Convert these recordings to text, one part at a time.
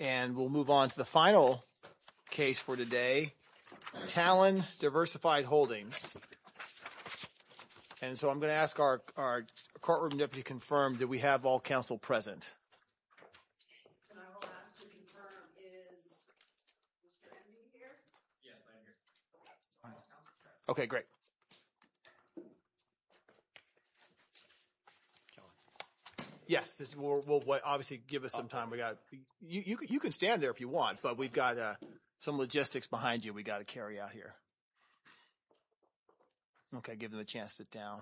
And we'll move on to the final case for today. Talon Diversified Holdings. And so I'm going to ask our courtroom deputy to confirm that we have all counsel present. And I will ask to confirm is Mr. Henry here? Yes, I am here. OK, great. Yes, we'll obviously give us some time. You can stand there if you want, but we've got some logistics behind you we've got to carry out here. OK, give them a chance to sit down.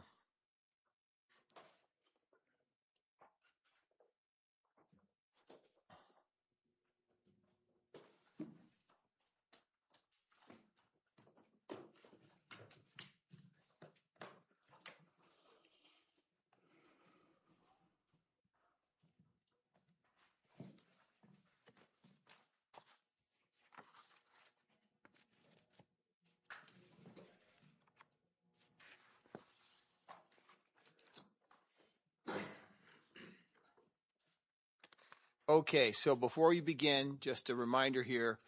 OK, so before you begin, just a reminder here.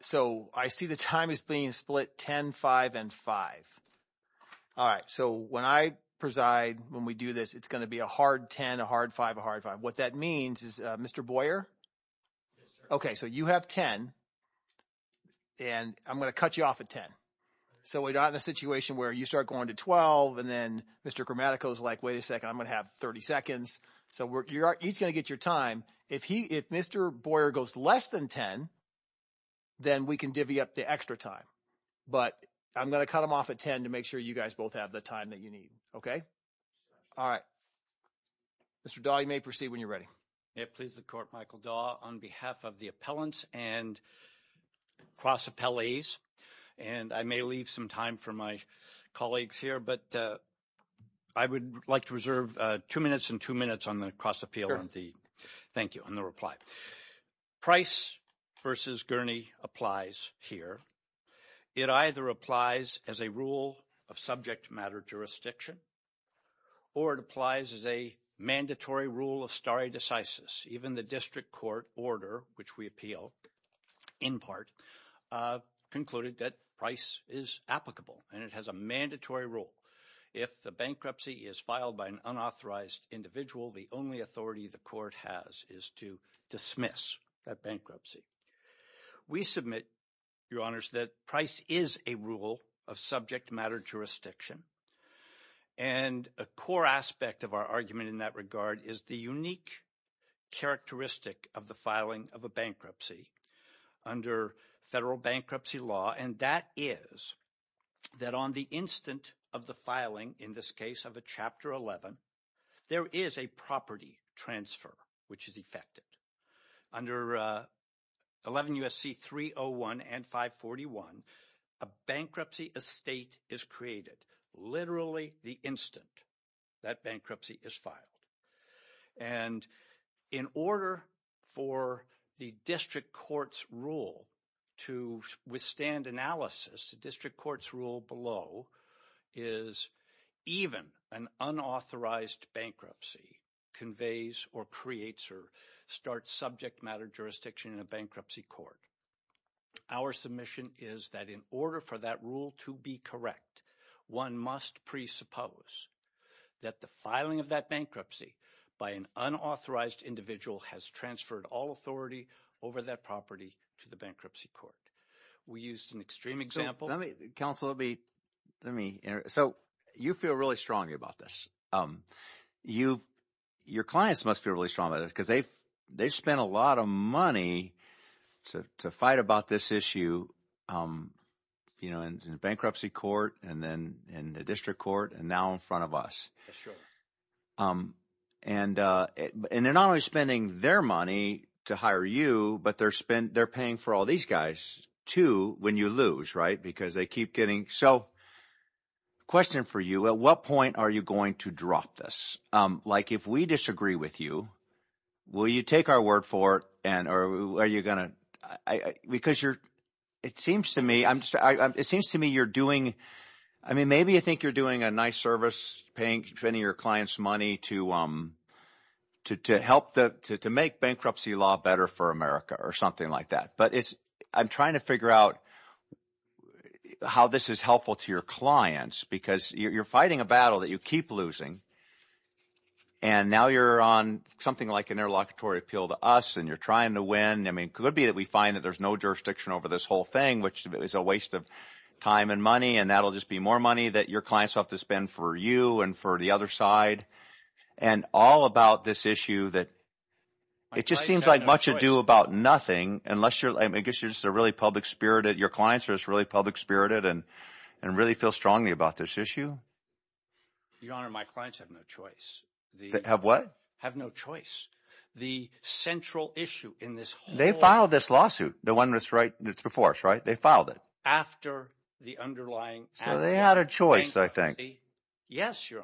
So I see the time is being split 10, 5, and 5. All right, so when I preside, when we do this, it's going to be a hard 10, a hard 5, a hard 5. What that means is Mr. Boyer? OK, so you have 10, and I'm going to cut you off at 10. So we're not in a situation where you start going to 12, and then Mr. Gramatico is like, wait a second, I'm going to have 30 seconds. So he's going to get your time. If Mr. Boyer goes less than 10, then we can divvy up the extra time. But I'm going to cut him off at 10 to make sure you guys both have the time that you need, OK? All right. Mr. Dawe, you may proceed when you're ready. May it please the court, Michael Dawe, on behalf of the appellants and cross-appellees. And I may leave some time for my colleagues here, but I would like to reserve two minutes and two minutes on the cross-appeal and the thank you and the reply. Price versus Gurney applies here. It either applies as a rule of subject matter jurisdiction, or it applies as a mandatory rule of stare decisis. Even the district court order, which we appeal in part, concluded that Price is applicable, and it has a mandatory rule. If the bankruptcy is filed by an unauthorized individual, the only authority the court has is to dismiss that bankruptcy. We submit, Your Honors, that Price is a rule of subject matter jurisdiction. And a core aspect of our argument in that regard is the unique characteristic of the filing of a bankruptcy under federal bankruptcy law, and that is that on the instant of the filing, in this case of a Chapter 11, there is a property transfer which is effected. Under 11 U.S.C. 301 and 541, a bankruptcy estate is created. Literally the instant that bankruptcy is filed. And in order for the district court's rule to withstand analysis, the district court's rule below is even an unauthorized bankruptcy conveys or creates or starts subject matter jurisdiction in a bankruptcy court. Our submission is that in order for that rule to be correct, one must presuppose that the filing of that bankruptcy by an unauthorized individual has transferred all authority over that property to the bankruptcy court. We used an extreme example. Counsel, let me, so you feel really strongly about this. You, your clients must feel really strongly about it because they've spent a lot of money to fight about this issue, you know, in bankruptcy court and then in the district court and now in front of us. Sure. And they're not only spending their money to hire you, but they're paying for all these guys too when you lose, right, because they keep getting, so question for you, at what point are you going to drop this? Like if we disagree with you, will you take our word for it and are you going to, because you're, it seems to me, I'm just, it seems to me you're doing, I mean, maybe you think you're doing a nice service, paying, spending your client's money to help the, to make bankruptcy law better for America or something like that. But it's, I'm trying to figure out how this is helpful to your clients because you're fighting a battle that you keep losing and now you're on something like an interlocutory appeal to us and you're trying to win. I mean, could it be that we find that there's no jurisdiction over this whole thing, which is a waste of time and money and that'll just be more money that your clients have to spend for you and for the other side and all about this issue that, it just seems like much ado about nothing unless you're, I guess you're just a really public spirited, your clients are just really public spirited and really feel strongly about this issue. Your Honor, my clients have no choice. Have what? Have no choice. The central issue in this whole. They filed this lawsuit, the one that's right before us, right? They filed it. After the underlying. So they had a choice, I think. Yes, Your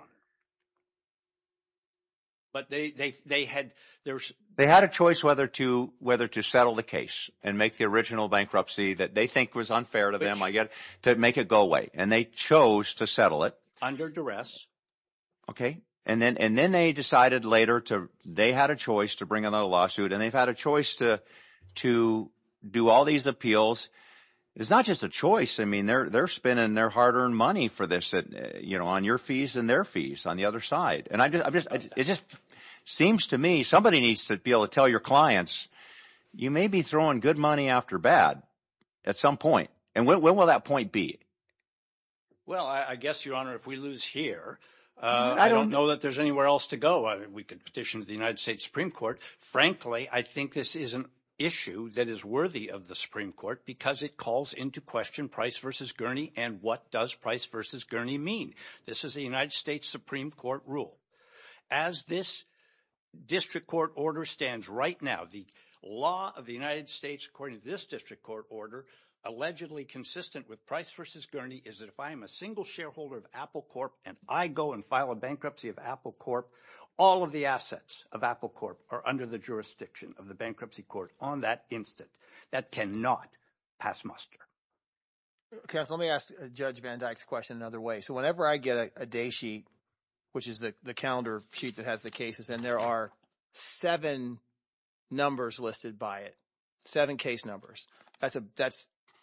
Honor. But they had, there's. They had a choice whether to settle the case and make the original bankruptcy that they think was unfair to them, I guess, to make it go away and they chose to settle it. Under duress. Okay, and then they decided later to, they had a choice to bring another lawsuit and they've had a choice to do all these appeals. It's not just a choice. I mean, they're spending their hard earned money for this, you know, on your fees and their fees on the other side. And I just, it just seems to me, somebody needs to be able to tell your clients, you may be throwing good money after bad at some point. And when will that point be? Well, I guess, Your Honor, if we lose here, I don't know that there's anywhere else to go. We could petition to the United States Supreme Court. Frankly, I think this is an issue that is worthy of the Supreme Court because it calls into question Price v. Gurney and what does Price v. Gurney mean? This is the United States Supreme Court rule. As this district court order stands right now, the law of the United States, according to this district court order, allegedly consistent with Price v. Gurney is that if I am a single shareholder of Apple Corp and I go and file a bankruptcy of Apple Corp, all of the assets of Apple Corp are under the jurisdiction of the bankruptcy court on that instant. That cannot pass muster. Counsel, let me ask Judge Van Dyke's question another way. So whenever I get a day sheet, which is the calendar sheet that has the cases, and there are seven numbers listed by it, seven case numbers, that's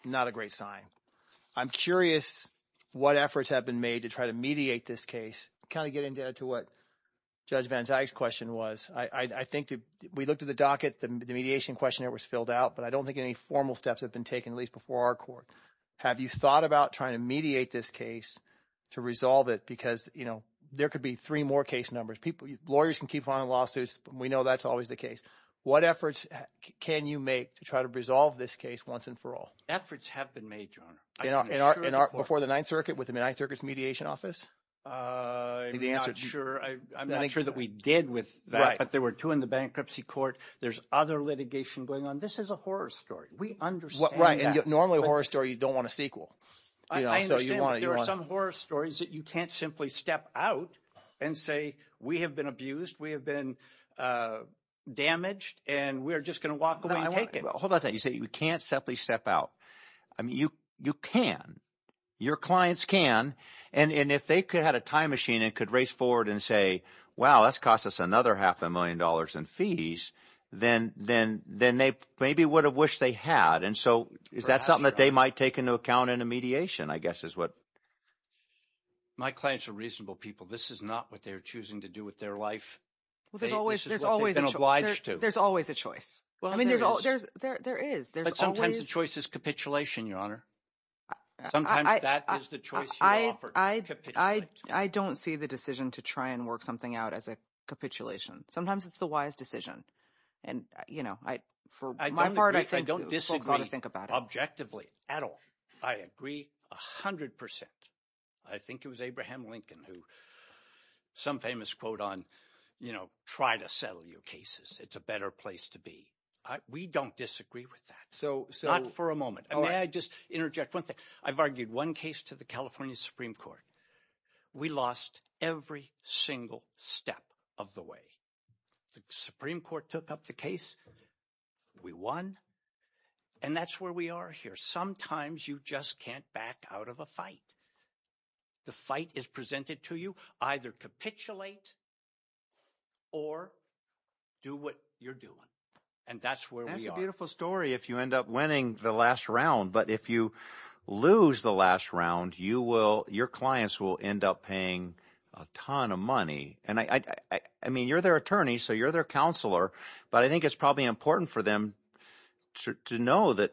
not a great sign. I'm curious what efforts have been made to try to mediate this case, kind of getting to what Judge Van Dyke's question was. I think we looked at the docket, the mediation questionnaire was filled out, but I don't think any formal steps have been taken, at least before our court. Have you thought about trying to mediate this case to resolve it? Because there could be three more case numbers. Lawyers can keep filing lawsuits, but we know that's always the case. What efforts can you make to try to resolve this case once and for all? Efforts have been made, Your Honor. Before the Ninth Circuit with the Ninth Circuit's mediation office? I'm not sure that we did with that, but there were two in the bankruptcy court. There's other litigation going on. This is a horror story. We understand that. Normally a horror story, you don't want a sequel. I understand that there are some horror stories that you can't simply step out and say, we have been abused, we have been damaged, and we're just gonna walk away and take it. Hold on a second. You say you can't simply step out. I mean, you can. Your clients can. And if they could have a time machine and could race forward and say, wow, that's cost us another half a million dollars in fees, then they maybe would have wished they had. And so is that something that they might take into account in a mediation, I guess, is what? My clients are reasonable people. This is not what they're choosing to do with their life. This is what they've been obliged to. There's always a choice. I mean, there is. But sometimes the choice is capitulation, Your Honor. Sometimes that is the choice you're offered, capitulation. I don't see the decision to try and work something out as a capitulation. Sometimes it's the wise decision. And for my part, I think folks ought to think about it. I don't disagree objectively at all. I agree 100%. I think it was Abraham Lincoln who, some famous quote on, you know, try to settle your cases. It's a better place to be. We don't disagree with that. Not for a moment. And may I just interject one thing? I've argued one case to the California Supreme Court. We lost every single step of the way. The Supreme Court took up the case. We won. And that's where we are here. Sometimes you just can't back out of a fight. The fight is presented to you. Either capitulate or do what you're doing. And that's where we are. That's a beautiful story if you end up winning the last round. But if you lose the last round, you will, your clients will end up paying a ton of money. And I mean, you're their attorney, so you're their counselor. But I think it's probably important for them to know that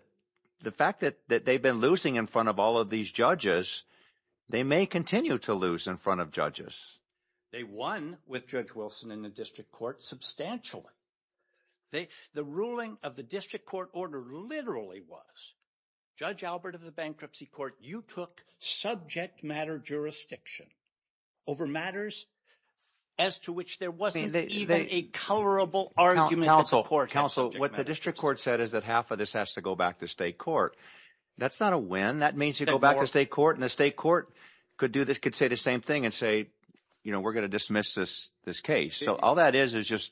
the fact that they've been losing in front of all of these judges, they may continue to lose in front of judges. They won with Judge Wilson in the district court substantially. The ruling of the district court order literally was, Judge Albert of the Bankruptcy Court, you took subject matter jurisdiction over matters as to which there wasn't even a colorable argument at the court. Counsel, what the district court said is that half of this has to go back to state court. That's not a win. That means you go back to state court, and the state court could do this, could say the same thing and say, you know, we're going to dismiss this case. So all that is is just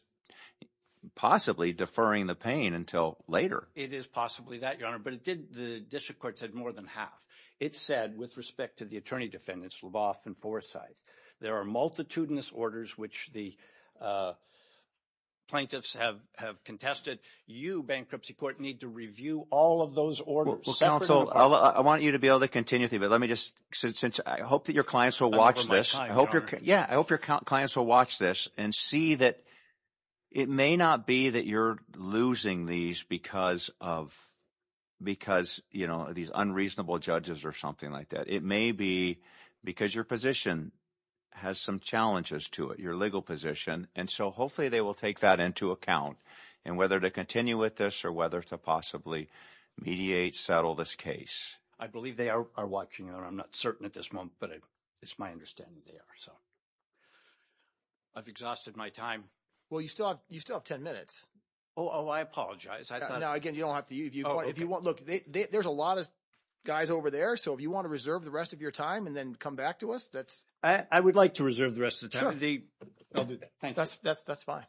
possibly deferring the pain until later. It is possibly that, Your Honor. But it did, the district court said more than half. It said, with respect to the attorney defendants, Leboff and Forsyth, there are multitudinous orders which the plaintiffs have contested. You, Bankruptcy Court, need to review all of those orders. Well, counsel, I want you to be able to continue with me, but let me just, since I hope that your clients will watch this, I hope your clients will watch this and see that it may not be that you're losing these because of, you know, these unreasonable judges or something like that. It may be because your position has some challenges to it. Your legal position. And so hopefully they will take that into account and whether to continue with this or whether to possibly mediate, settle this case. I believe they are watching, Your Honor. I'm not certain at this moment, but it's my understanding they are, so. I've exhausted my time. Well, you still have 10 minutes. Oh, I apologize. No, again, you don't have to. Look, there's a lot of guys over there. So if you want to reserve the rest of your time and then come back to us, that's- I would like to reserve the rest of the time. I'll do that. Thank you. That's fine.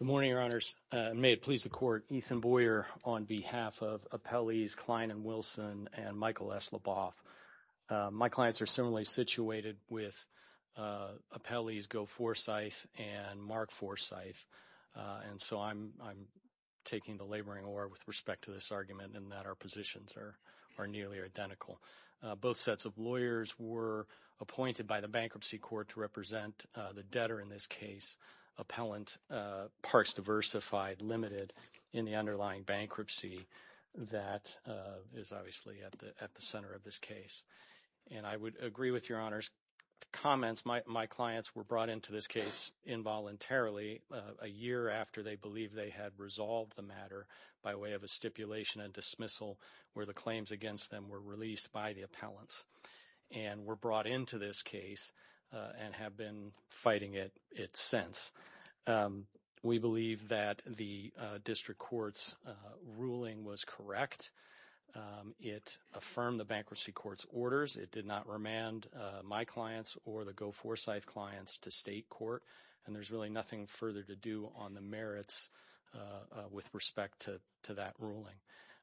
Good morning, Your Honors. May it please the Court, Ethan Boyer on behalf of Appellees Klein and Wilson and Michael S. Leboff. My clients are similarly situated with Appellees Go Forsyth and Mark Forsyth. And so I'm taking the laboring oar with respect to this argument in that our positions are nearly identical. Both sets of lawyers were appointed by the bankruptcy court to represent the debtor in this case, appellant parts diversified limited in the underlying bankruptcy that is obviously at the center of this case. And I would agree with Your Honor's comments. My clients were brought into this case involuntarily a year after they believed they had resolved the matter by way of a stipulation and dismissal where the claims against them were released by the appellants and were brought into this case and have been fighting it since. We believe that the district court's ruling was correct. It affirmed the bankruptcy court's orders. It did not remand my clients or the Go Forsyth clients to state court. And there's really nothing further to do on the merits with respect to that ruling.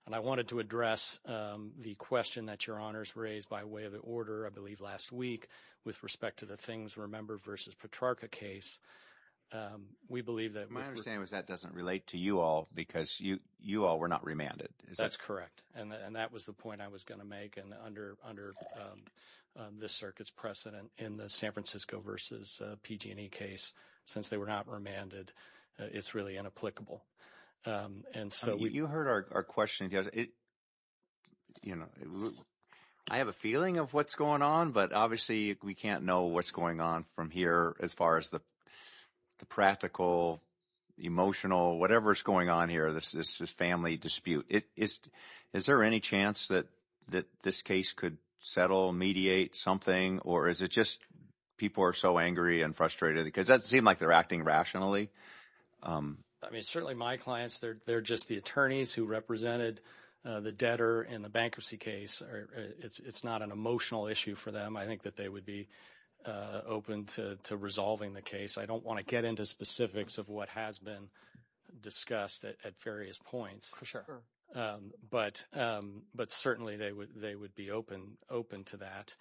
And I wanted to address the question that Your Honor's raised by way of the order, I believe last week, with respect to the Things Remember versus Petrarca case. We believe that- My understanding is that doesn't relate to you all because you all were not remanded. That's correct. And that was the point I was gonna make. And under this circuit's precedent in the San Francisco versus PG&E case, since they were not remanded, it's really inapplicable. And so- You heard our question. I have a feeling of what's going on, but obviously we can't know what's going on from here as far as the practical, emotional, whatever's going on here. This is family dispute. Is there any chance that this case could settle, mediate something, or is it just people are so angry and frustrated because that seemed like they're acting rationally? I mean, certainly my clients, they're just the attorneys who represented the debtor in the bankruptcy case. It's not an emotional issue for them. I think that they would be open to resolving the case. I don't wanna get into specifics of what has been discussed at various points. For sure. But certainly they would be open to that.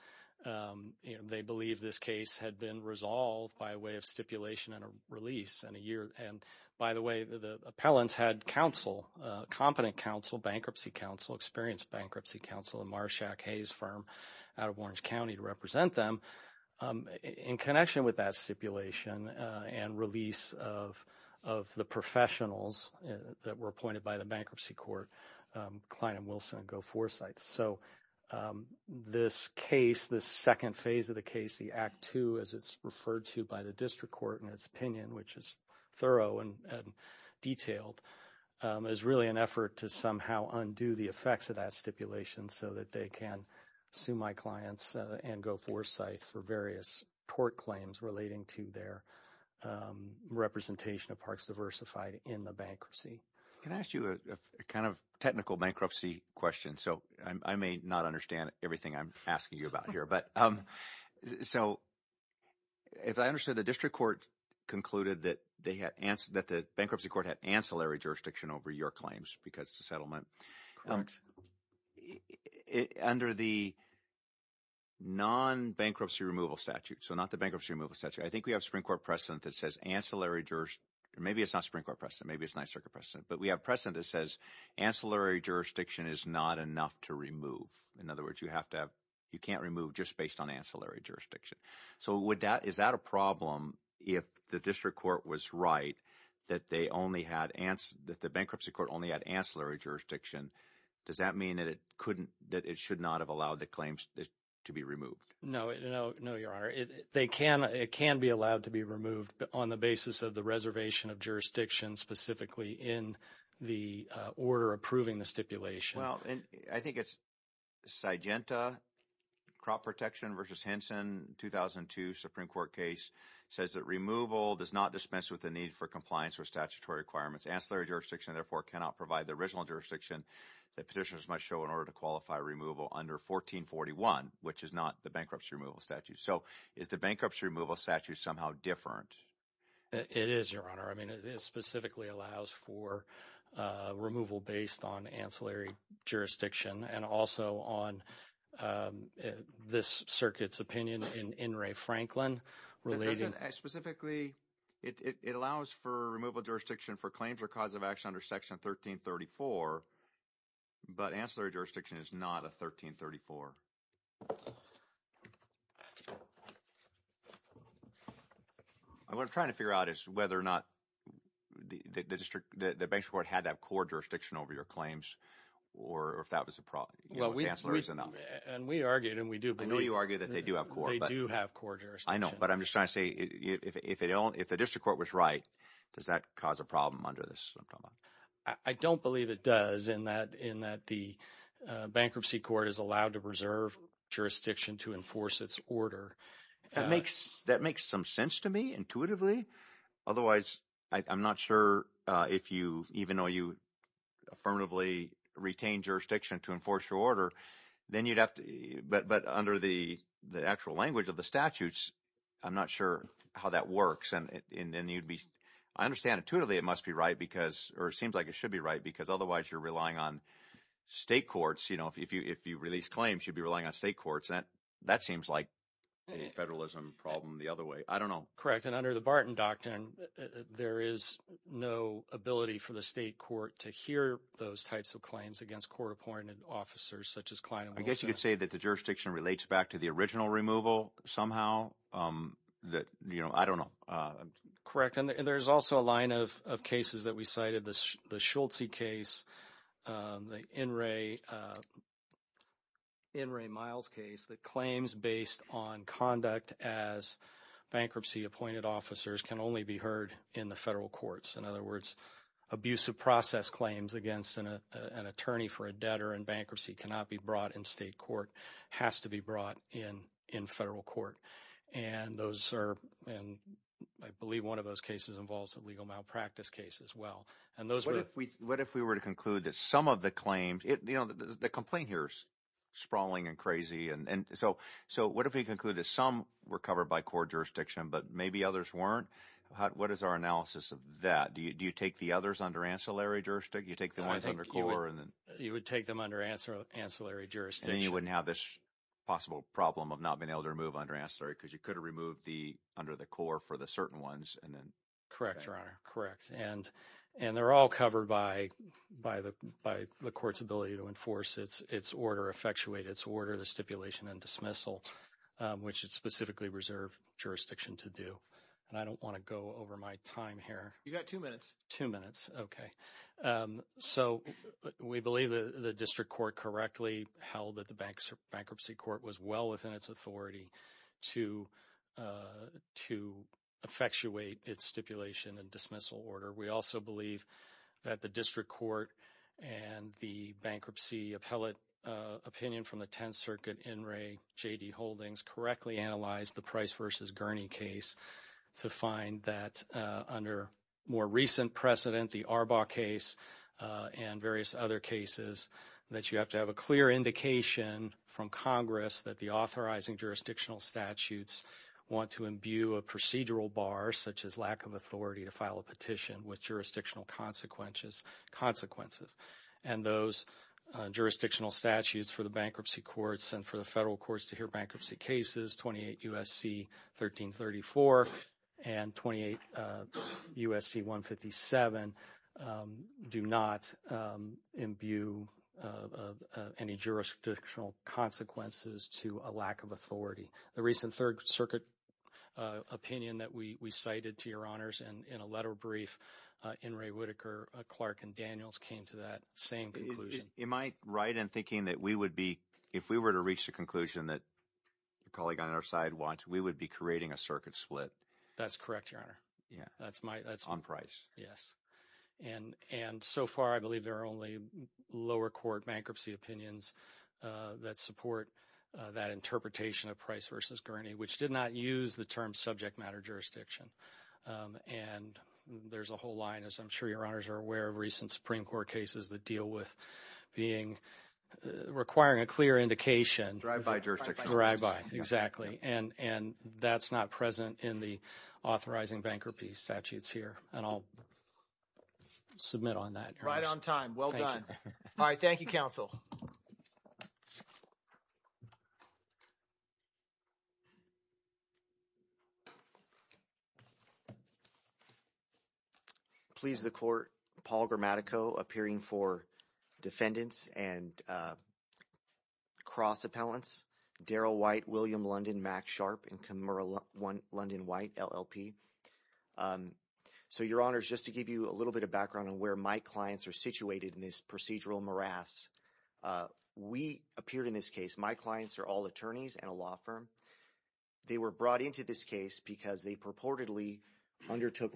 They believe this case had been resolved by way of stipulation and a release in a year. And by the way, the appellants had counsel, competent counsel, bankruptcy counsel, experienced bankruptcy counsel, a Marshack Hayes firm out of Orange County to represent them. In connection with that stipulation and release of the professionals that were appointed by the bankruptcy court, Klein and Wilson and Go Forsyth. So this case, the second phase of the case, the Act II as it's referred to by the district court in its opinion, which is thorough and detailed, is really an effort to somehow undo the effects of that stipulation so that they can sue my clients and Go Forsyth for various tort claims relating to their representation of parks diversified in the bankruptcy. Can I ask you a kind of technical bankruptcy question? So I may not understand everything I'm asking you about here, but so if I understood the district court concluded that the bankruptcy court had ancillary jurisdiction over your claims because it's a settlement. Under the non-bankruptcy removal statute, so not the bankruptcy removal statute, I think we have Supreme Court precedent that says ancillary jurors, maybe it's not Supreme Court precedent, maybe it's not circuit precedent, but we have precedent that says ancillary jurisdiction is not enough to remove. In other words, you can't remove just based on ancillary jurisdiction. So is that a problem if the district court was right that the bankruptcy court only had ancillary jurisdiction? Does that mean that it should not have allowed the claims to be removed? No, no, your honor. They can, it can be allowed to be removed on the basis of the reservation of jurisdiction specifically in the order approving the stipulation. Well, and I think it's Sygenta, Crop Protection versus Henson, 2002 Supreme Court case says that removal does not dispense with the need for compliance or statutory requirements. Ancillary jurisdiction therefore cannot provide the original jurisdiction that petitioners must show in order to qualify removal under 1441, which is not the bankruptcy removal statute. So is the bankruptcy removal statute somehow different? It is, your honor. I mean, it specifically allows for removal based on ancillary jurisdiction and also on this circuit's opinion in Ray Franklin. Specifically, it allows for removal jurisdiction for claims or cause of action under section 1334, but ancillary jurisdiction is not a 1334. I was trying to figure out is whether or not the district, the bankruptcy court had that core jurisdiction over your claims or if that was a problem, you know, ancillary is enough. And we argued, and we do believe- I know you argued that they do have core, but- They do have core jurisdiction. I know, but I'm just trying to say if they don't, if the district court was right, does that cause a problem under this? I don't believe it does in that, in that the bankruptcy court is allowed to reserve jurisdiction to enforce its order. That makes some sense to me intuitively. Otherwise, I'm not sure if you, even though you affirmatively retain jurisdiction to enforce your order, then you'd have to, but under the actual language of the statutes, I'm not sure how that works. And you'd be, I understand intuitively it must be right because, or it seems like it should be right because otherwise you're relying on state courts. You know, if you release claims, you'd be relying on state courts. That seems like a federalism problem the other way. I don't know. Correct, and under the Barton Doctrine, there is no ability for the state court to hear those types of claims against court-appointed officers such as Klein and Wilson. I guess you could say that the jurisdiction relates back to the original removal somehow that, you know, I don't know. Correct, and there's also a line of cases that we cited, the Schultz case, the In re Miles case, that claims based on conduct as bankruptcy-appointed officers can only be heard in the federal courts. In other words, abusive process claims against an attorney for a debtor in bankruptcy cannot be brought in state court, has to be brought in federal court. And those are, and I believe one of those cases involves a legal malpractice case as well. And those were- What if we were to conclude that some of the claims, you know, the complaint here is sprawling and crazy. And so what if we conclude that some were covered by court jurisdiction, but maybe others weren't? What is our analysis of that? Do you take the others under ancillary jurisdiction? You take the ones under court and then- You would take them under ancillary jurisdiction. And you wouldn't have this possible problem of not being able to remove under ancillary because you could have removed the, under the court for the certain ones and then- Correct, Your Honor. And they're all covered by the court's ability to enforce its order, effectuate its order, the stipulation and dismissal, which is specifically reserved jurisdiction to do. And I don't want to go over my time here. You got two minutes. Two minutes. Okay. So we believe that the district court correctly held that the bankruptcy court was well within its authority to, to effectuate its stipulation and dismissal order. We also believe that the district court and the bankruptcy appellate opinion from the 10th Circuit in Ray J.D. Holdings correctly analyzed the Price versus Gurney case to find that under more recent precedent, the Arbaugh case and various other cases, that you have to have a clear indication from Congress that the authorizing jurisdictional statutes want to imbue a procedural bar, such as lack of authority to file a petition with jurisdictional consequences. And those jurisdictional statutes for the bankruptcy courts and for the federal courts to hear bankruptcy cases, 28 U.S.C. 1334 and 28 U.S.C. 157 do not imbue any jurisdictional consequences to a lack of authority. The recent Third Circuit opinion that we cited to your honors in a letter brief in Ray Whitaker, Clark and Daniels came to that same conclusion. Am I right in thinking that we would be, if we were to reach the conclusion that a colleague on our side wants, we would be creating a circuit split? That's correct, your honor. Yeah. That's my- On Price. Yes. And so far, I believe there are only lower court bankruptcy opinions that support that interpretation of Price versus Gurney, which did not use the term subject matter jurisdiction. And there's a whole line, as I'm sure your honors are aware, of recent Supreme Court cases that deal with requiring a clear indication- Drive-by jurisdiction. Drive-by, exactly. And that's not present in the authorizing bankruptcy statutes here. And I'll submit on that. Right on time. Well done. All right, thank you, counsel. Please the court, Paul Gramatico appearing for defendants and cross appellants, Daryl White, William London, Max Sharp, and Kimura London White, LLP. So your honors, just to give you a little bit of background on where my clients are situated in this procedural morass. We appeared in this case, my clients are all attorneys and a law firm. They were brought into this case because they purportedly undertook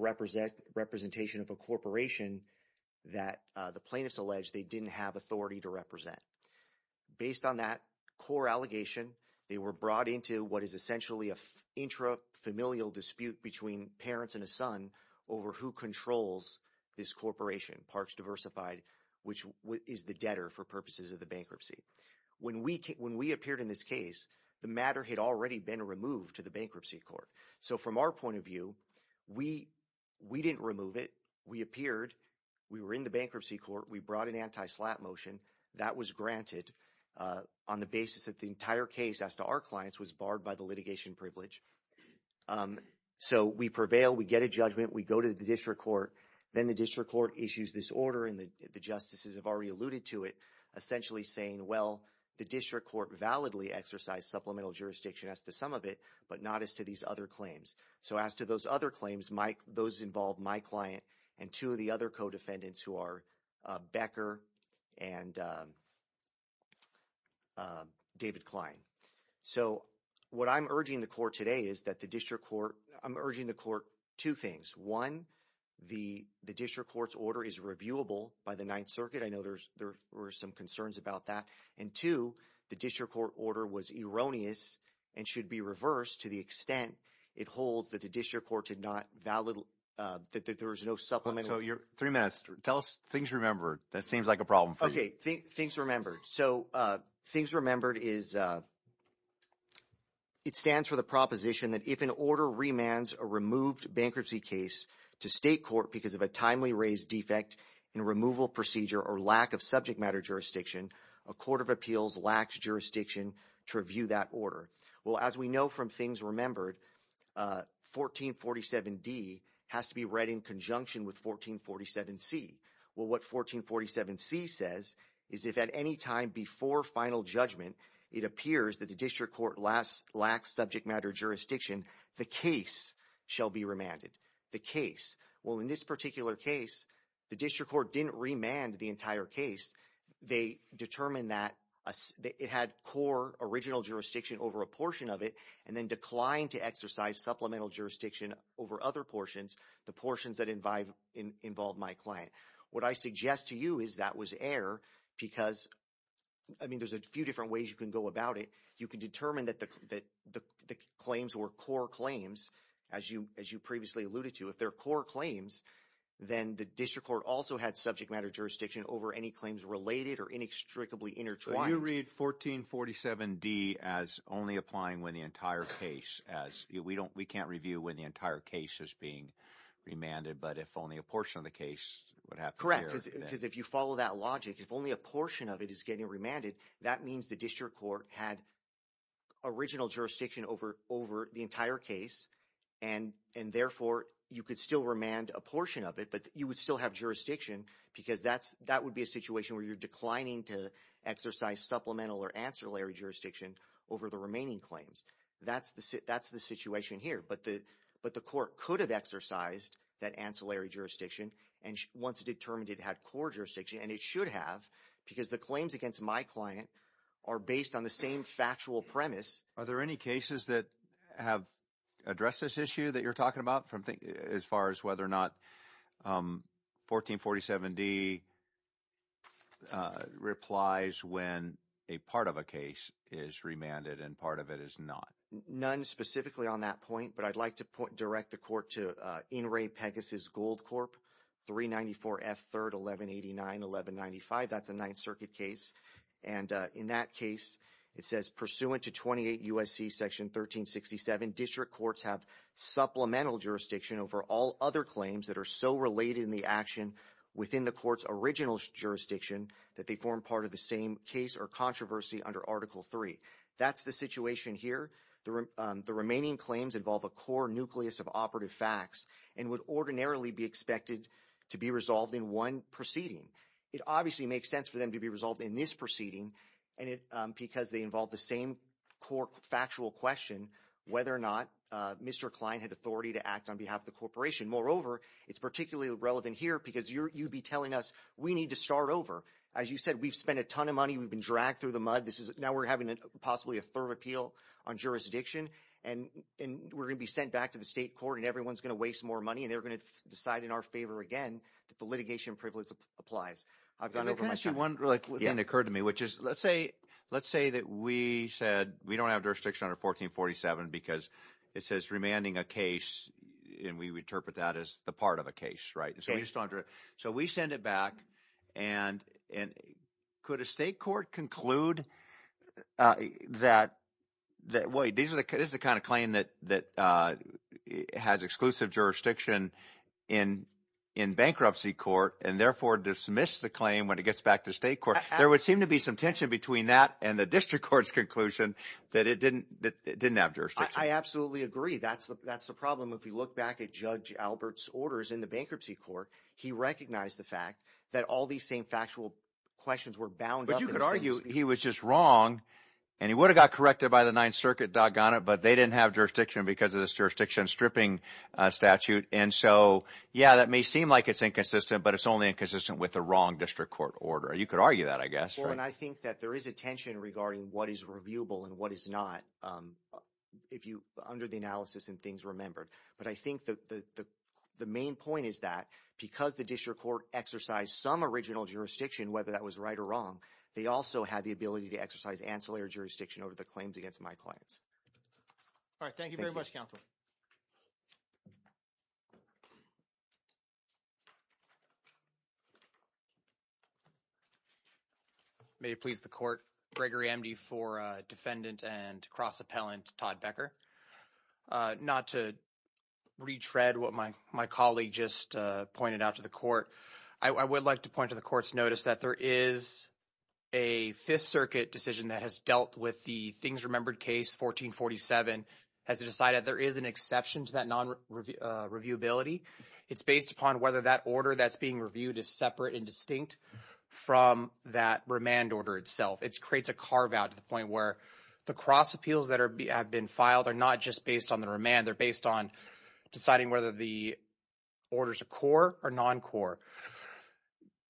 representation of a corporation that the plaintiffs alleged they didn't have authority to represent. Based on that core allegation, they were brought into what is essentially a intrafamilial dispute between parents and a son over who controls this corporation, Parks Diversified, which is the debtor for purposes of the bankruptcy. When we appeared in this case, the matter had already been removed to the bankruptcy court. So from our point of view, we didn't remove it. We appeared, we were in the bankruptcy court, we brought an anti-slap motion. That was granted on the basis that the entire case as to our clients was barred by the litigation privilege. So we prevail, we get a judgment, we go to the district court. Then the district court issues this order and the justices have already alluded to it, essentially saying, well, the district court validly exercised supplemental jurisdiction as to some of it, but not as to these other claims. So as to those other claims, those involve my client and two of the other co-defendants who are Becker and David Klein. So what I'm urging the court today is that the district court, I'm urging the court two things. One, the district court's order is reviewable by the Ninth Circuit. I know there were some concerns about that. And two, the district court order was erroneous and should be reversed to the extent it holds that the district court did not valid, that there was no supplemental. So you're, three minutes, tell us things remembered that seems like a problem for you. Okay, things remembered. So things remembered is, it stands for the proposition that if an order remands a removed bankruptcy case to state court because of a timely raised defect in removal procedure or lack of subject matter jurisdiction, a court of appeals lacks jurisdiction to review that order. Well, as we know from things remembered, 1447D has to be read in conjunction with 1447C. Well, what 1447C says is if at any time before final judgment, it appears that the district court lacks subject matter jurisdiction, the case shall be remanded, the case. Well, in this particular case, the district court didn't remand the entire case. They determined that it had core original jurisdiction over a portion of it and then declined to exercise supplemental jurisdiction over other portions, the portions that involve my client. What I suggest to you is that was error because, I mean, there's a few different ways you can go about it. You can determine that the claims were core claims, as you previously alluded to. If they're core claims, then the district court also had subject matter jurisdiction over any claims related or inextricably intertwined. So you read 1447D as only applying when the entire case, we can't review when the entire case is being remanded, but if only a portion of the case would have to be remanded. Correct, because if you follow that logic, if only a portion of it is getting remanded, that means the district court had original jurisdiction over the entire case, and therefore, you could still remand a portion of it, but you would still have jurisdiction because that would be a situation where you're declining to exercise supplemental or ancillary jurisdiction over the remaining claims. That's the situation here, but the court could have exercised that ancillary jurisdiction, and once it determined it had core jurisdiction, and it should have, because the claims against my client are based on the same factual premise. Are there any cases that have addressed this issue that you're talking about as far as whether or not 1447D replies when a part of a case is remanded and part of it is not? None specifically on that point, but I'd like to direct the court to In re Pegasus Gold Corp 394F3-1189-1195. That's a Ninth Circuit case, and in that case, it says, pursuant to 28 U.S.C. Section 1367, district courts have supplemental jurisdiction over all other claims that are so related in the action within the court's original jurisdiction that they form part of the same case or controversy under Article III. That's the situation here. The remaining claims involve a core nucleus of operative facts and would ordinarily be expected to be resolved in one proceeding. It obviously makes sense for them to be resolved in this proceeding because they involve the same core factual question whether or not Mr. Klein had authority to act on behalf of the corporation. Moreover, it's particularly relevant here because you'd be telling us we need to start over. As you said, we've spent a ton of money. We've been dragged through the mud. Now we're having possibly a third appeal on jurisdiction, and we're gonna be sent back to the state court, and everyone's gonna waste more money, and they're gonna decide in our favor again that the litigation privilege applies. I've gone over my time. Can I ask you one thing that occurred to me, which is let's say that we said we don't have jurisdiction under 1447 because it says remanding a case, and we would interpret that as the part of a case, right? So we just don't have jurisdiction. So we send it back, and could a state court conclude that, wait, this is the kind of claim that has exclusive jurisdiction in bankruptcy court and therefore dismiss the claim when it gets back to state court. There would seem to be some tension between that and the district court's conclusion that it didn't have jurisdiction. I absolutely agree. That's the problem. If you look back at Judge Albert's orders in the bankruptcy court, he recognized the fact that all these same factual questions were bound up- But you could argue he was just wrong, and he would have got corrected by the Ninth Circuit, doggone it, but they didn't have jurisdiction because of this jurisdiction stripping statute. And so, yeah, that may seem like it's inconsistent, but it's only inconsistent with the wrong district court order. You could argue that, I guess. Well, and I think that there is a tension regarding what is reviewable and what is not under the analysis and things remembered. But I think that the main point is that because the district court exercised some original jurisdiction, whether that was right or wrong, they also had the ability to exercise ancillary jurisdiction over the claims against my clients. All right, thank you very much, Counselor. May it please the court. Gregory Emdy for defendant and cross-appellant Todd Becker. Not to retread what my colleague just pointed out to the court. I would like to point to the court's notice that there is a Fifth Circuit decision that has dealt with the things remembered case, 1447, has decided there is an exception to that non-reviewability. It's based upon whether that order that's being reviewed is separate and distinct from that remand order itself. It creates a carve-out to the point where the cross appeals that have been filed are not just based on the remand, they're based on deciding whether the order's a core or non-core.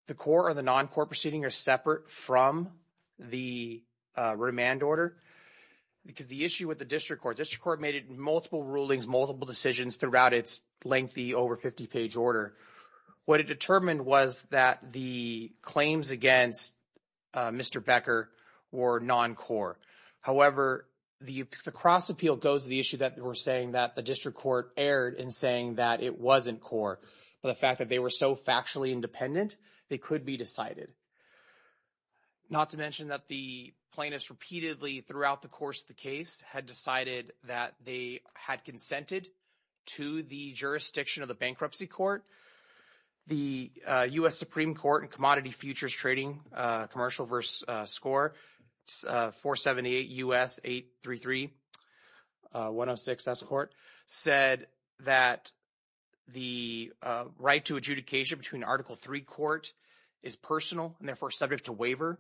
The core or the non-core proceeding are separate from the remand order because the issue with the district court, district court made it multiple rulings, multiple decisions throughout its lengthy, over 50-page order. What it determined was that the claims against Mr. Becker were non-core. However, the cross appeal goes to the issue that we're saying that the district court erred in saying that it wasn't core. But the fact that they were so factually independent, they could be decided. Not to mention that the plaintiffs repeatedly throughout the course of the case had decided that they had consented to the jurisdiction of the bankruptcy court. The U.S. Supreme Court and Commodity Futures Trading Commercial versus Score, 478 U.S. 833-106-S Court, said that the right to adjudication between Article III court is personal and therefore subject to waiver.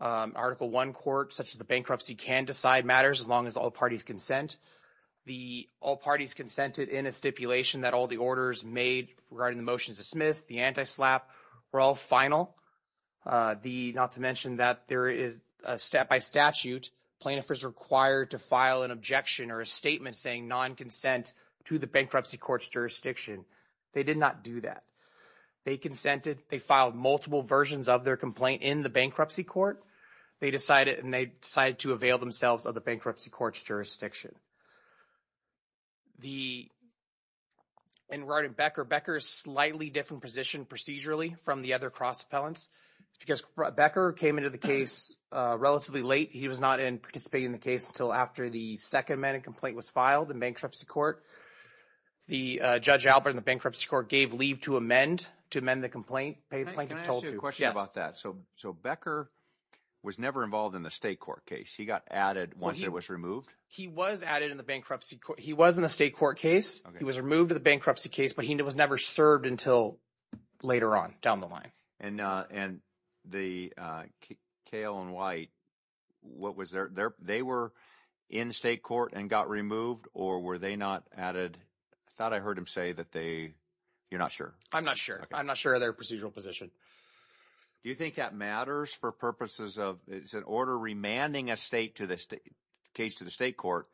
Article I court, such as the bankruptcy, can decide matters as long as all parties consent. The all parties consented in a stipulation that all the orders made regarding the motions dismissed, the anti-SLAPP were all final. The, not to mention that there is a step by statute, plaintiff is required to file an objection or a statement saying non-consent to the bankruptcy court's jurisdiction. They did not do that. They consented, they filed multiple versions of their complaint in the bankruptcy court. They decided to avail themselves of the bankruptcy court's jurisdiction. The, in writing Becker, Becker's slightly different position procedurally from the other cross appellants because Becker came into the case relatively late. He was not in participating in the case until after the second amendment complaint was filed in bankruptcy court. The Judge Albert in the bankruptcy court gave leave to amend, to amend the complaint. Plaintiff told you, yes. Can I ask you a question about that? So Becker was never involved in the state court case. He got added once it was removed. He was added in the bankruptcy court. He was in the state court case. He was removed to the bankruptcy case, but he was never served until later on down the line. And the Kale and White, what was their, they were in state court and got removed or were they not added? I thought I heard him say that they, you're not sure. I'm not sure. I'm not sure of their procedural position. Do you think that matters for purposes of, it's an order remanding a state to the state, case to the state court.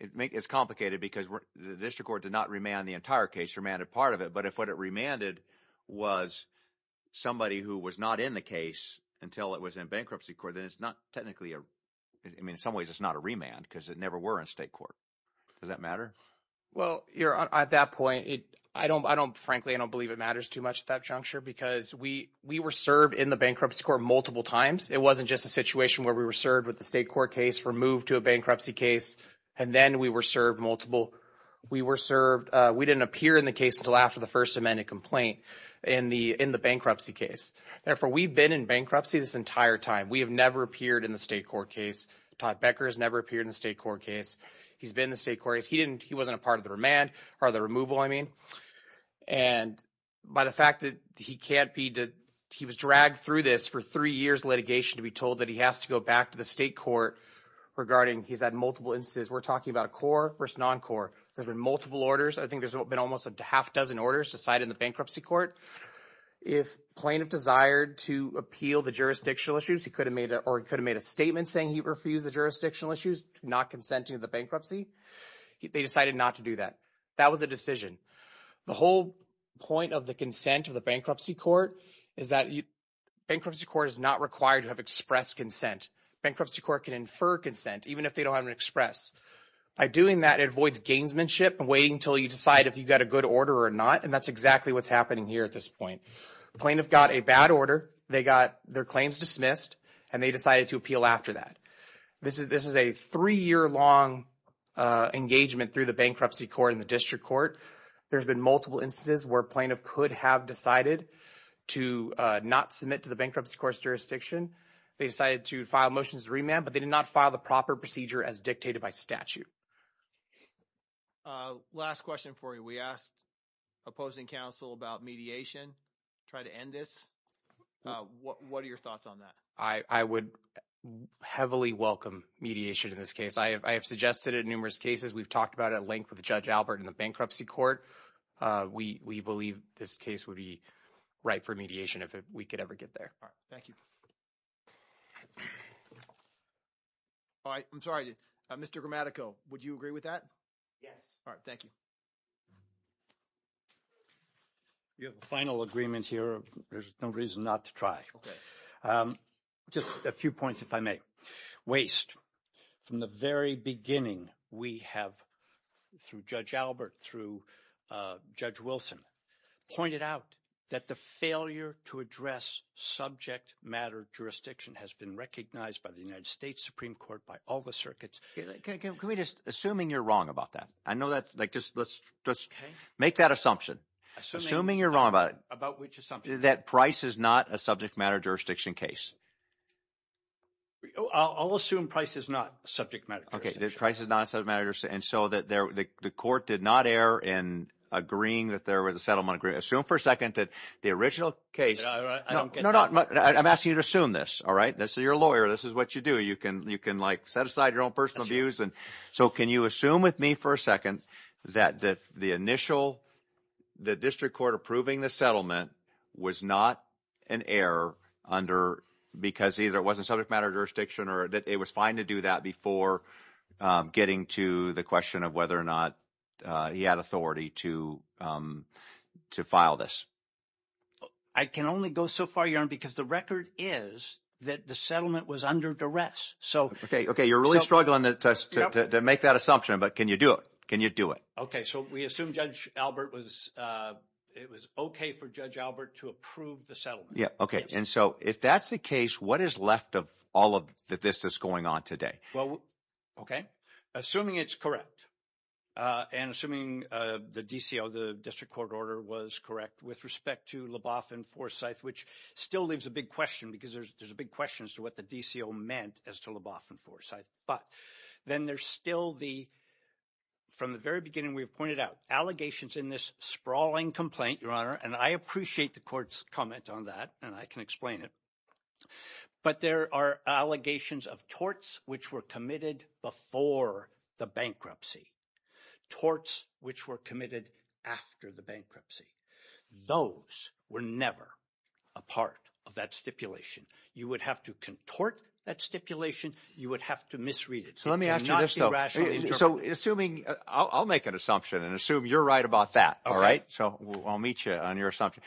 It makes, it's complicated because the district court did not remand the entire case, remanded part of it. But if what it remanded was somebody who was not in the case until it was in bankruptcy court, then it's not technically a, I mean, in some ways it's not a remand because it never were in state court. Does that matter? Well, at that point, I don't, frankly, I don't believe it matters too much at that juncture because we were served in the bankruptcy court multiple times. It wasn't just a situation where we were served with the state court case, removed to a bankruptcy case. And then we were served multiple, we were served, we didn't appear in the case until after the first amendment complaint in the bankruptcy case. Therefore, we've been in bankruptcy this entire time. We have never appeared in the state court case. Todd Becker has never appeared in the state court case. He's been in the state court case. He didn't, he wasn't a part of the remand or the removal, I mean. And by the fact that he can't be, he was dragged through this for three years litigation to be told that he has to go back to the state court regarding, he's had multiple instances. We're talking about a core versus non-core. There's been multiple orders. I think there's been almost a half dozen orders decided in the bankruptcy court. If plaintiff desired to appeal the jurisdictional issues, he could have made a, or he could have made a statement saying he refused the jurisdictional issues, not consenting to the bankruptcy. They decided not to do that. That was the decision. The whole point of the consent of the bankruptcy court is that bankruptcy court is not required to have expressed consent. Bankruptcy court can infer consent even if they don't have an express. By doing that, it avoids gamesmanship and waiting until you decide if you've got a good order or not. And that's exactly what's happening here at this point. Plaintiff got a bad order. They got their claims dismissed and they decided to appeal after that. This is a three year long engagement through the bankruptcy court and the district court. There's been multiple instances where plaintiff could have decided to not submit to the bankruptcy court's jurisdiction. They decided to file motions to remand, but they did not file the proper procedure as dictated by statute. Last question for you. We asked opposing counsel about mediation. Try to end this. What are your thoughts on that? I would heavily welcome mediation in this case. I have suggested it in numerous cases. We've talked about it at length with Judge Albert in the bankruptcy court. We believe this case would be right for mediation if we could ever get there. All right, thank you. All right, I'm sorry, Mr. Gramatico, would you agree with that? Yes. All right, thank you. You have a final agreement here. There's no reason not to try. Okay. Just a few points, if I may. Waste, from the very beginning, we have, through Judge Albert, through Judge Wilson, pointed out that the failure to address subject matter jurisdiction has been recognized by the United States Supreme Court, by all the circuits. Can we just, assuming you're wrong about that, I know that, like, just make that assumption. Assuming you're wrong about it. About which assumption? That Price is not a subject matter jurisdiction case. I'll assume Price is not a subject matter jurisdiction. Okay, that Price is not a subject matter jurisdiction, and so the court did not err in agreeing that there was a settlement agreement. Assume for a second that the original case. No, no, I'm asking you to assume this, all right? This is your lawyer, this is what you do. You can, like, set aside your own personal views. So can you assume with me for a second that the initial, the district court approving the settlement was not an error under, because either it wasn't subject matter jurisdiction or that it was fine to do that before getting to the question of whether or not he had authority to file this. I can only go so far, Your Honor, because the record is that the settlement was under duress. Okay, okay, you're really struggling to make that assumption, but can you do it? Can you do it? Okay, so we assume Judge Albert was, it was okay for Judge Albert to approve the settlement. Yeah, okay, and so if that's the case, what is left of all of that this is going on today? Well, okay, assuming it's correct, and assuming the DCO, the district court order was correct with respect to Leboff and Forsyth, which still leaves a big question because there's a big question as to what the DCO meant as to Leboff and Forsyth, but then there's still the, from the very beginning we've pointed out, allegations in this sprawling complaint, Your Honor, and I appreciate the court's comment on that, and I can explain it, but there are allegations of torts which were committed before the bankruptcy, torts which were committed after the bankruptcy. Those were never a part of that stipulation. You would have to contort that stipulation. You would have to misread it. So let me ask you this, though. So assuming, I'll make an assumption and assume you're right about that, all right? So I'll meet you on your assumption.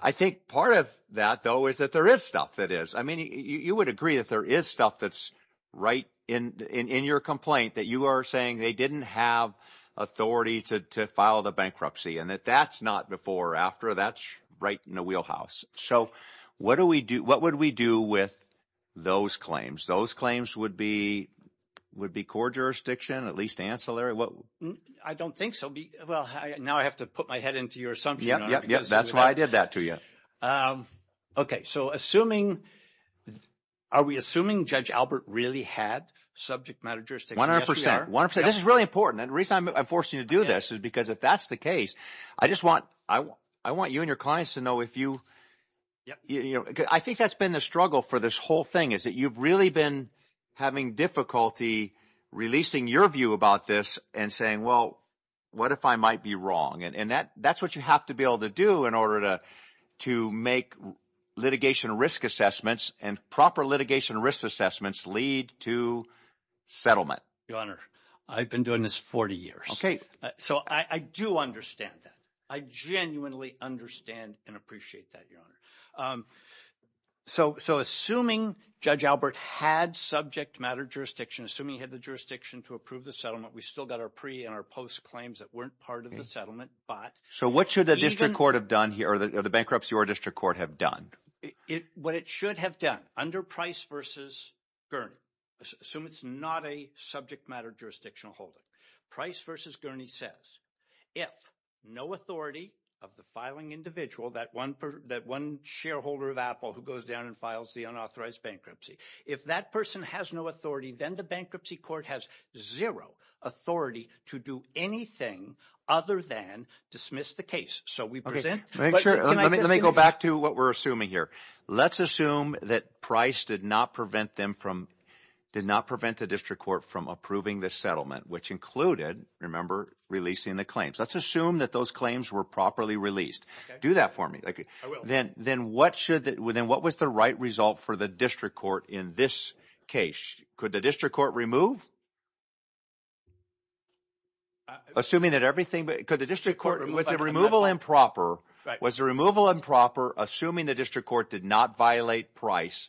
I think part of that, though, is that there is stuff that is, I mean, you would agree that there is stuff that's right in your complaint that you are saying they didn't have authority to file the bankruptcy, and that that's not before or after. That's right in the wheelhouse. So what would we do with those claims? Those claims would be court jurisdiction, at least ancillary? I don't think so. Well, now I have to put my head into your assumption, Your Honor, because- Yep, yep, yep, that's why I did that to you. Okay, so assuming, are we assuming Judge Albert really had subject matter jurisdiction? Yes, we are. 100%, 100%. This is really important, and the reason I'm forcing you to do this is because if that's the case, I just want you and your clients to know if you, I think that's been the struggle for this whole thing is that you've really been having difficulty releasing your view about this and saying, well, what if I might be wrong? And that's what you have to be able to do in order to make litigation risk assessments and proper litigation risk assessments lead to settlement. Your Honor, I've been doing this 40 years. So I do understand that. I genuinely understand and appreciate that, Your Honor. So assuming Judge Albert had subject matter jurisdiction, assuming he had the jurisdiction to approve the settlement, we still got our pre and our post claims that weren't part of the settlement, but- So what should the district court have done here, or the bankruptcy or district court have done? What it should have done, under Price v. Gurney, assume it's not a subject matter jurisdictional holding. Price v. Gurney says if no authority of the filing individual, that one shareholder of Apple who goes down and files the unauthorized bankruptcy, if that person has no authority, then the bankruptcy court has zero authority to do anything other than dismiss the case. So we present- Let me go back to what we're assuming here. Let's assume that Price did not prevent them from, did not prevent the district court from approving the settlement, which included, remember, releasing the claims. Let's assume that those claims were properly released. Do that for me. Then what was the right result for the district court in this case? Could the district court remove? Assuming that everything, could the district court, was the removal improper? Was the removal improper, assuming the district court did not violate Price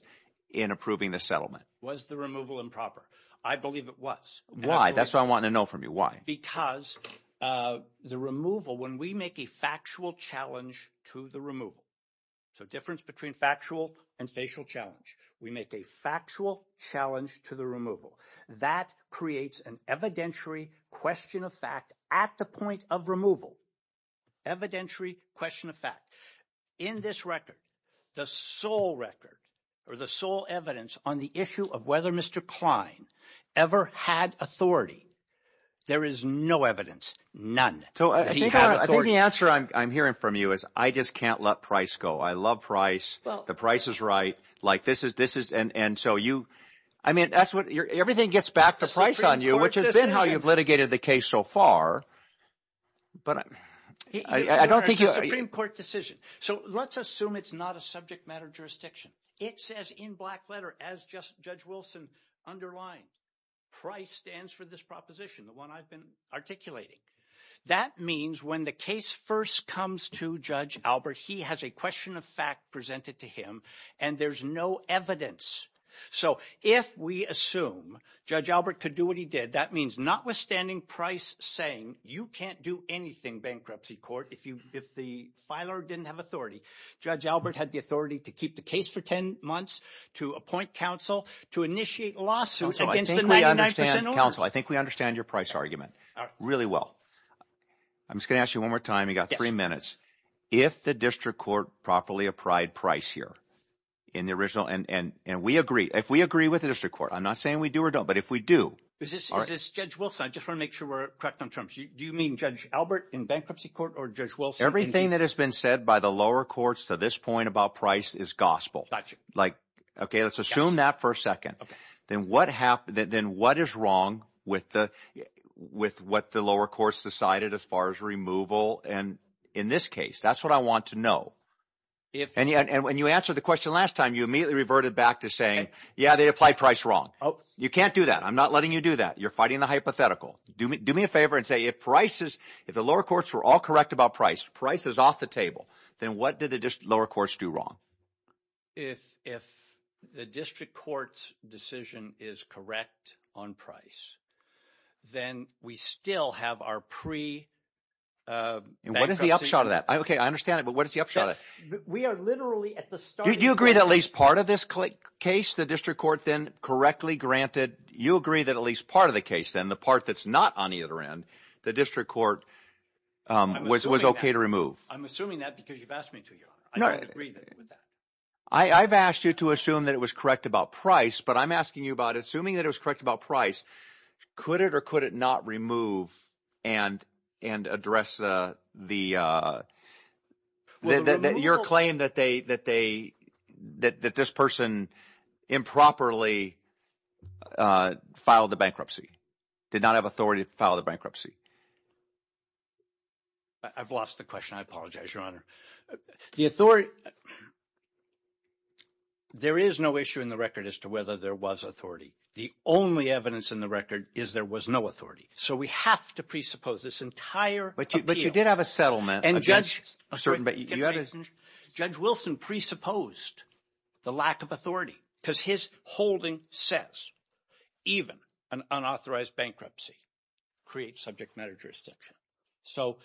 in approving the settlement? Was the removal improper? I believe it was. Why? That's what I want to know from you. Why? Because the removal, when we make a factual challenge to the removal, so difference between factual and facial challenge, we make a factual challenge to the removal. That creates an evidentiary question of fact at the point of removal. Evidentiary question of fact. In this record, the sole record, or the sole evidence on the issue of whether Mr. Klein ever had authority, there is no evidence, none. So he had authority. I think the answer I'm hearing from you is I just can't let Price go. I love Price. The Price is right. Like this is, and so you, I mean, that's what, everything gets back to Price on you, which has been how you've litigated the case so far, but I don't think you- Supreme Court decision. So let's assume it's not a subject matter jurisdiction. It says in black letter, as just Judge Wilson underlined, Price stands for this proposition, the one I've been articulating. That means when the case first comes to Judge Albert, he has a question of fact presented to him, and there's no evidence. So if we assume Judge Albert could do what he did, that means notwithstanding Price saying you can't do anything bankruptcy court if the filer didn't have authority, Judge Albert had the authority to keep the case for 10 months, to appoint counsel, to initiate lawsuits against the 99% order. Counsel, I think we understand your Price argument really well. I'm just gonna ask you one more time. You got three minutes. If the district court properly applied Price here in the original, and we agree, if we agree with the district court, I'm not saying we do or don't, but if we do- Is this Judge Wilson? I just wanna make sure we're correct on terms. Do you mean Judge Albert in bankruptcy court or Judge Wilson- Everything that has been said by the lower courts to this point about Price is gospel. Like, okay, let's assume that for a second. Then what is wrong with what the lower courts decided as far as removal? And in this case, that's what I want to know. If- And when you answered the question last time, you immediately reverted back to saying, yeah, they applied Price wrong. You can't do that. I'm not letting you do that. You're fighting the hypothetical. Do me a favor and say, if the lower courts were all correct about Price, Price is off the table, then what did the lower courts do wrong? If the district court's decision is correct on Price, then we still have our pre- And what is the upshot of that? Okay, I understand it, but what is the upshot of that? We are literally at the start- Do you agree that at least part of this case, the district court then correctly granted, you agree that at least part of the case then, the part that's not on either end, the district court was okay to remove? I'm assuming that because you've asked me to, Your Honor. I don't agree with that. I've asked you to assume that it was correct about Price, but I'm asking you about, assuming that it was correct about Price, could it or could it not remove and address the, your claim that they, that this person improperly filed the bankruptcy, did not have authority to file the bankruptcy? I've lost the question, I apologize, Your Honor. The authority, there is no issue in the record as to whether there was authority. The only evidence in the record is there was no authority. So we have to presuppose this entire appeal. But you did have a settlement. And Judge, Judge Wilson presupposed the lack of authority because his holding says, even an unauthorized bankruptcy creates subject matter jurisdiction. So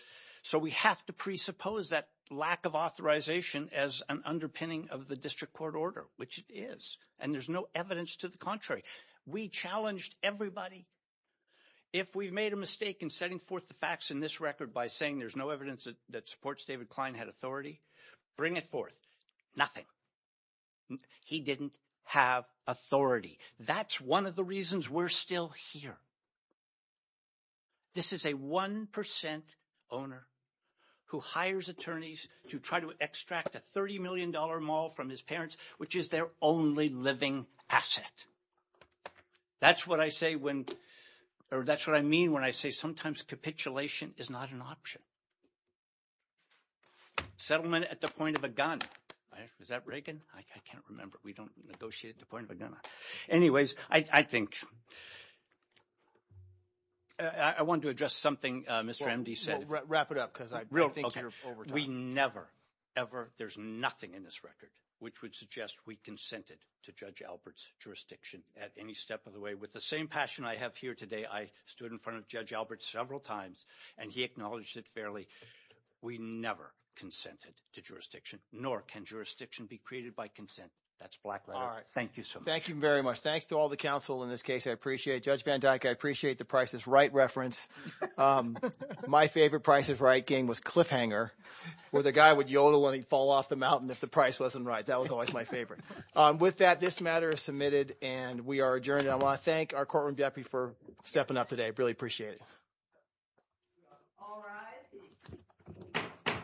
we have to presuppose that lack of authorization as an underpinning of the district court order, which it is. And there's no evidence to the contrary. We challenged everybody. If we've made a mistake in setting forth the facts in this record by saying there's no evidence that supports David Klein had authority, bring it forth. He didn't have authority. That's one of the reasons we're still here. This is a 1% owner who hires attorneys to try to extract a $30 million maul from his parents, which is their only living asset. That's what I say when, or that's what I mean when I say sometimes capitulation is not an option. Settlement at the point of a gun. Is that Reagan? I can't remember. We don't negotiate at the point of a gun. Anyways, I think, I wanted to address something Mr. Emdy said. Wrap it up, because I think you're over time. We never, ever, there's nothing in this record which would suggest we consented to Judge Albert's jurisdiction at any step of the way. With the same passion I have here today, I stood in front of Judge Albert several times and he acknowledged it fairly. We never consented to jurisdiction, nor can jurisdiction be created by consent. That's black letter. Thank you so much. Thank you very much. Thanks to all the counsel in this case. I appreciate Judge Van Dyke. I appreciate the Price is Right reference. My favorite Price is Right game was Cliffhanger, where the guy would yodel and he'd fall off the mountain if the price wasn't right. That was always my favorite. With that, this matter is submitted and we are adjourned. I wanna thank our courtroom deputy for stepping up today. Really appreciate it. All rise.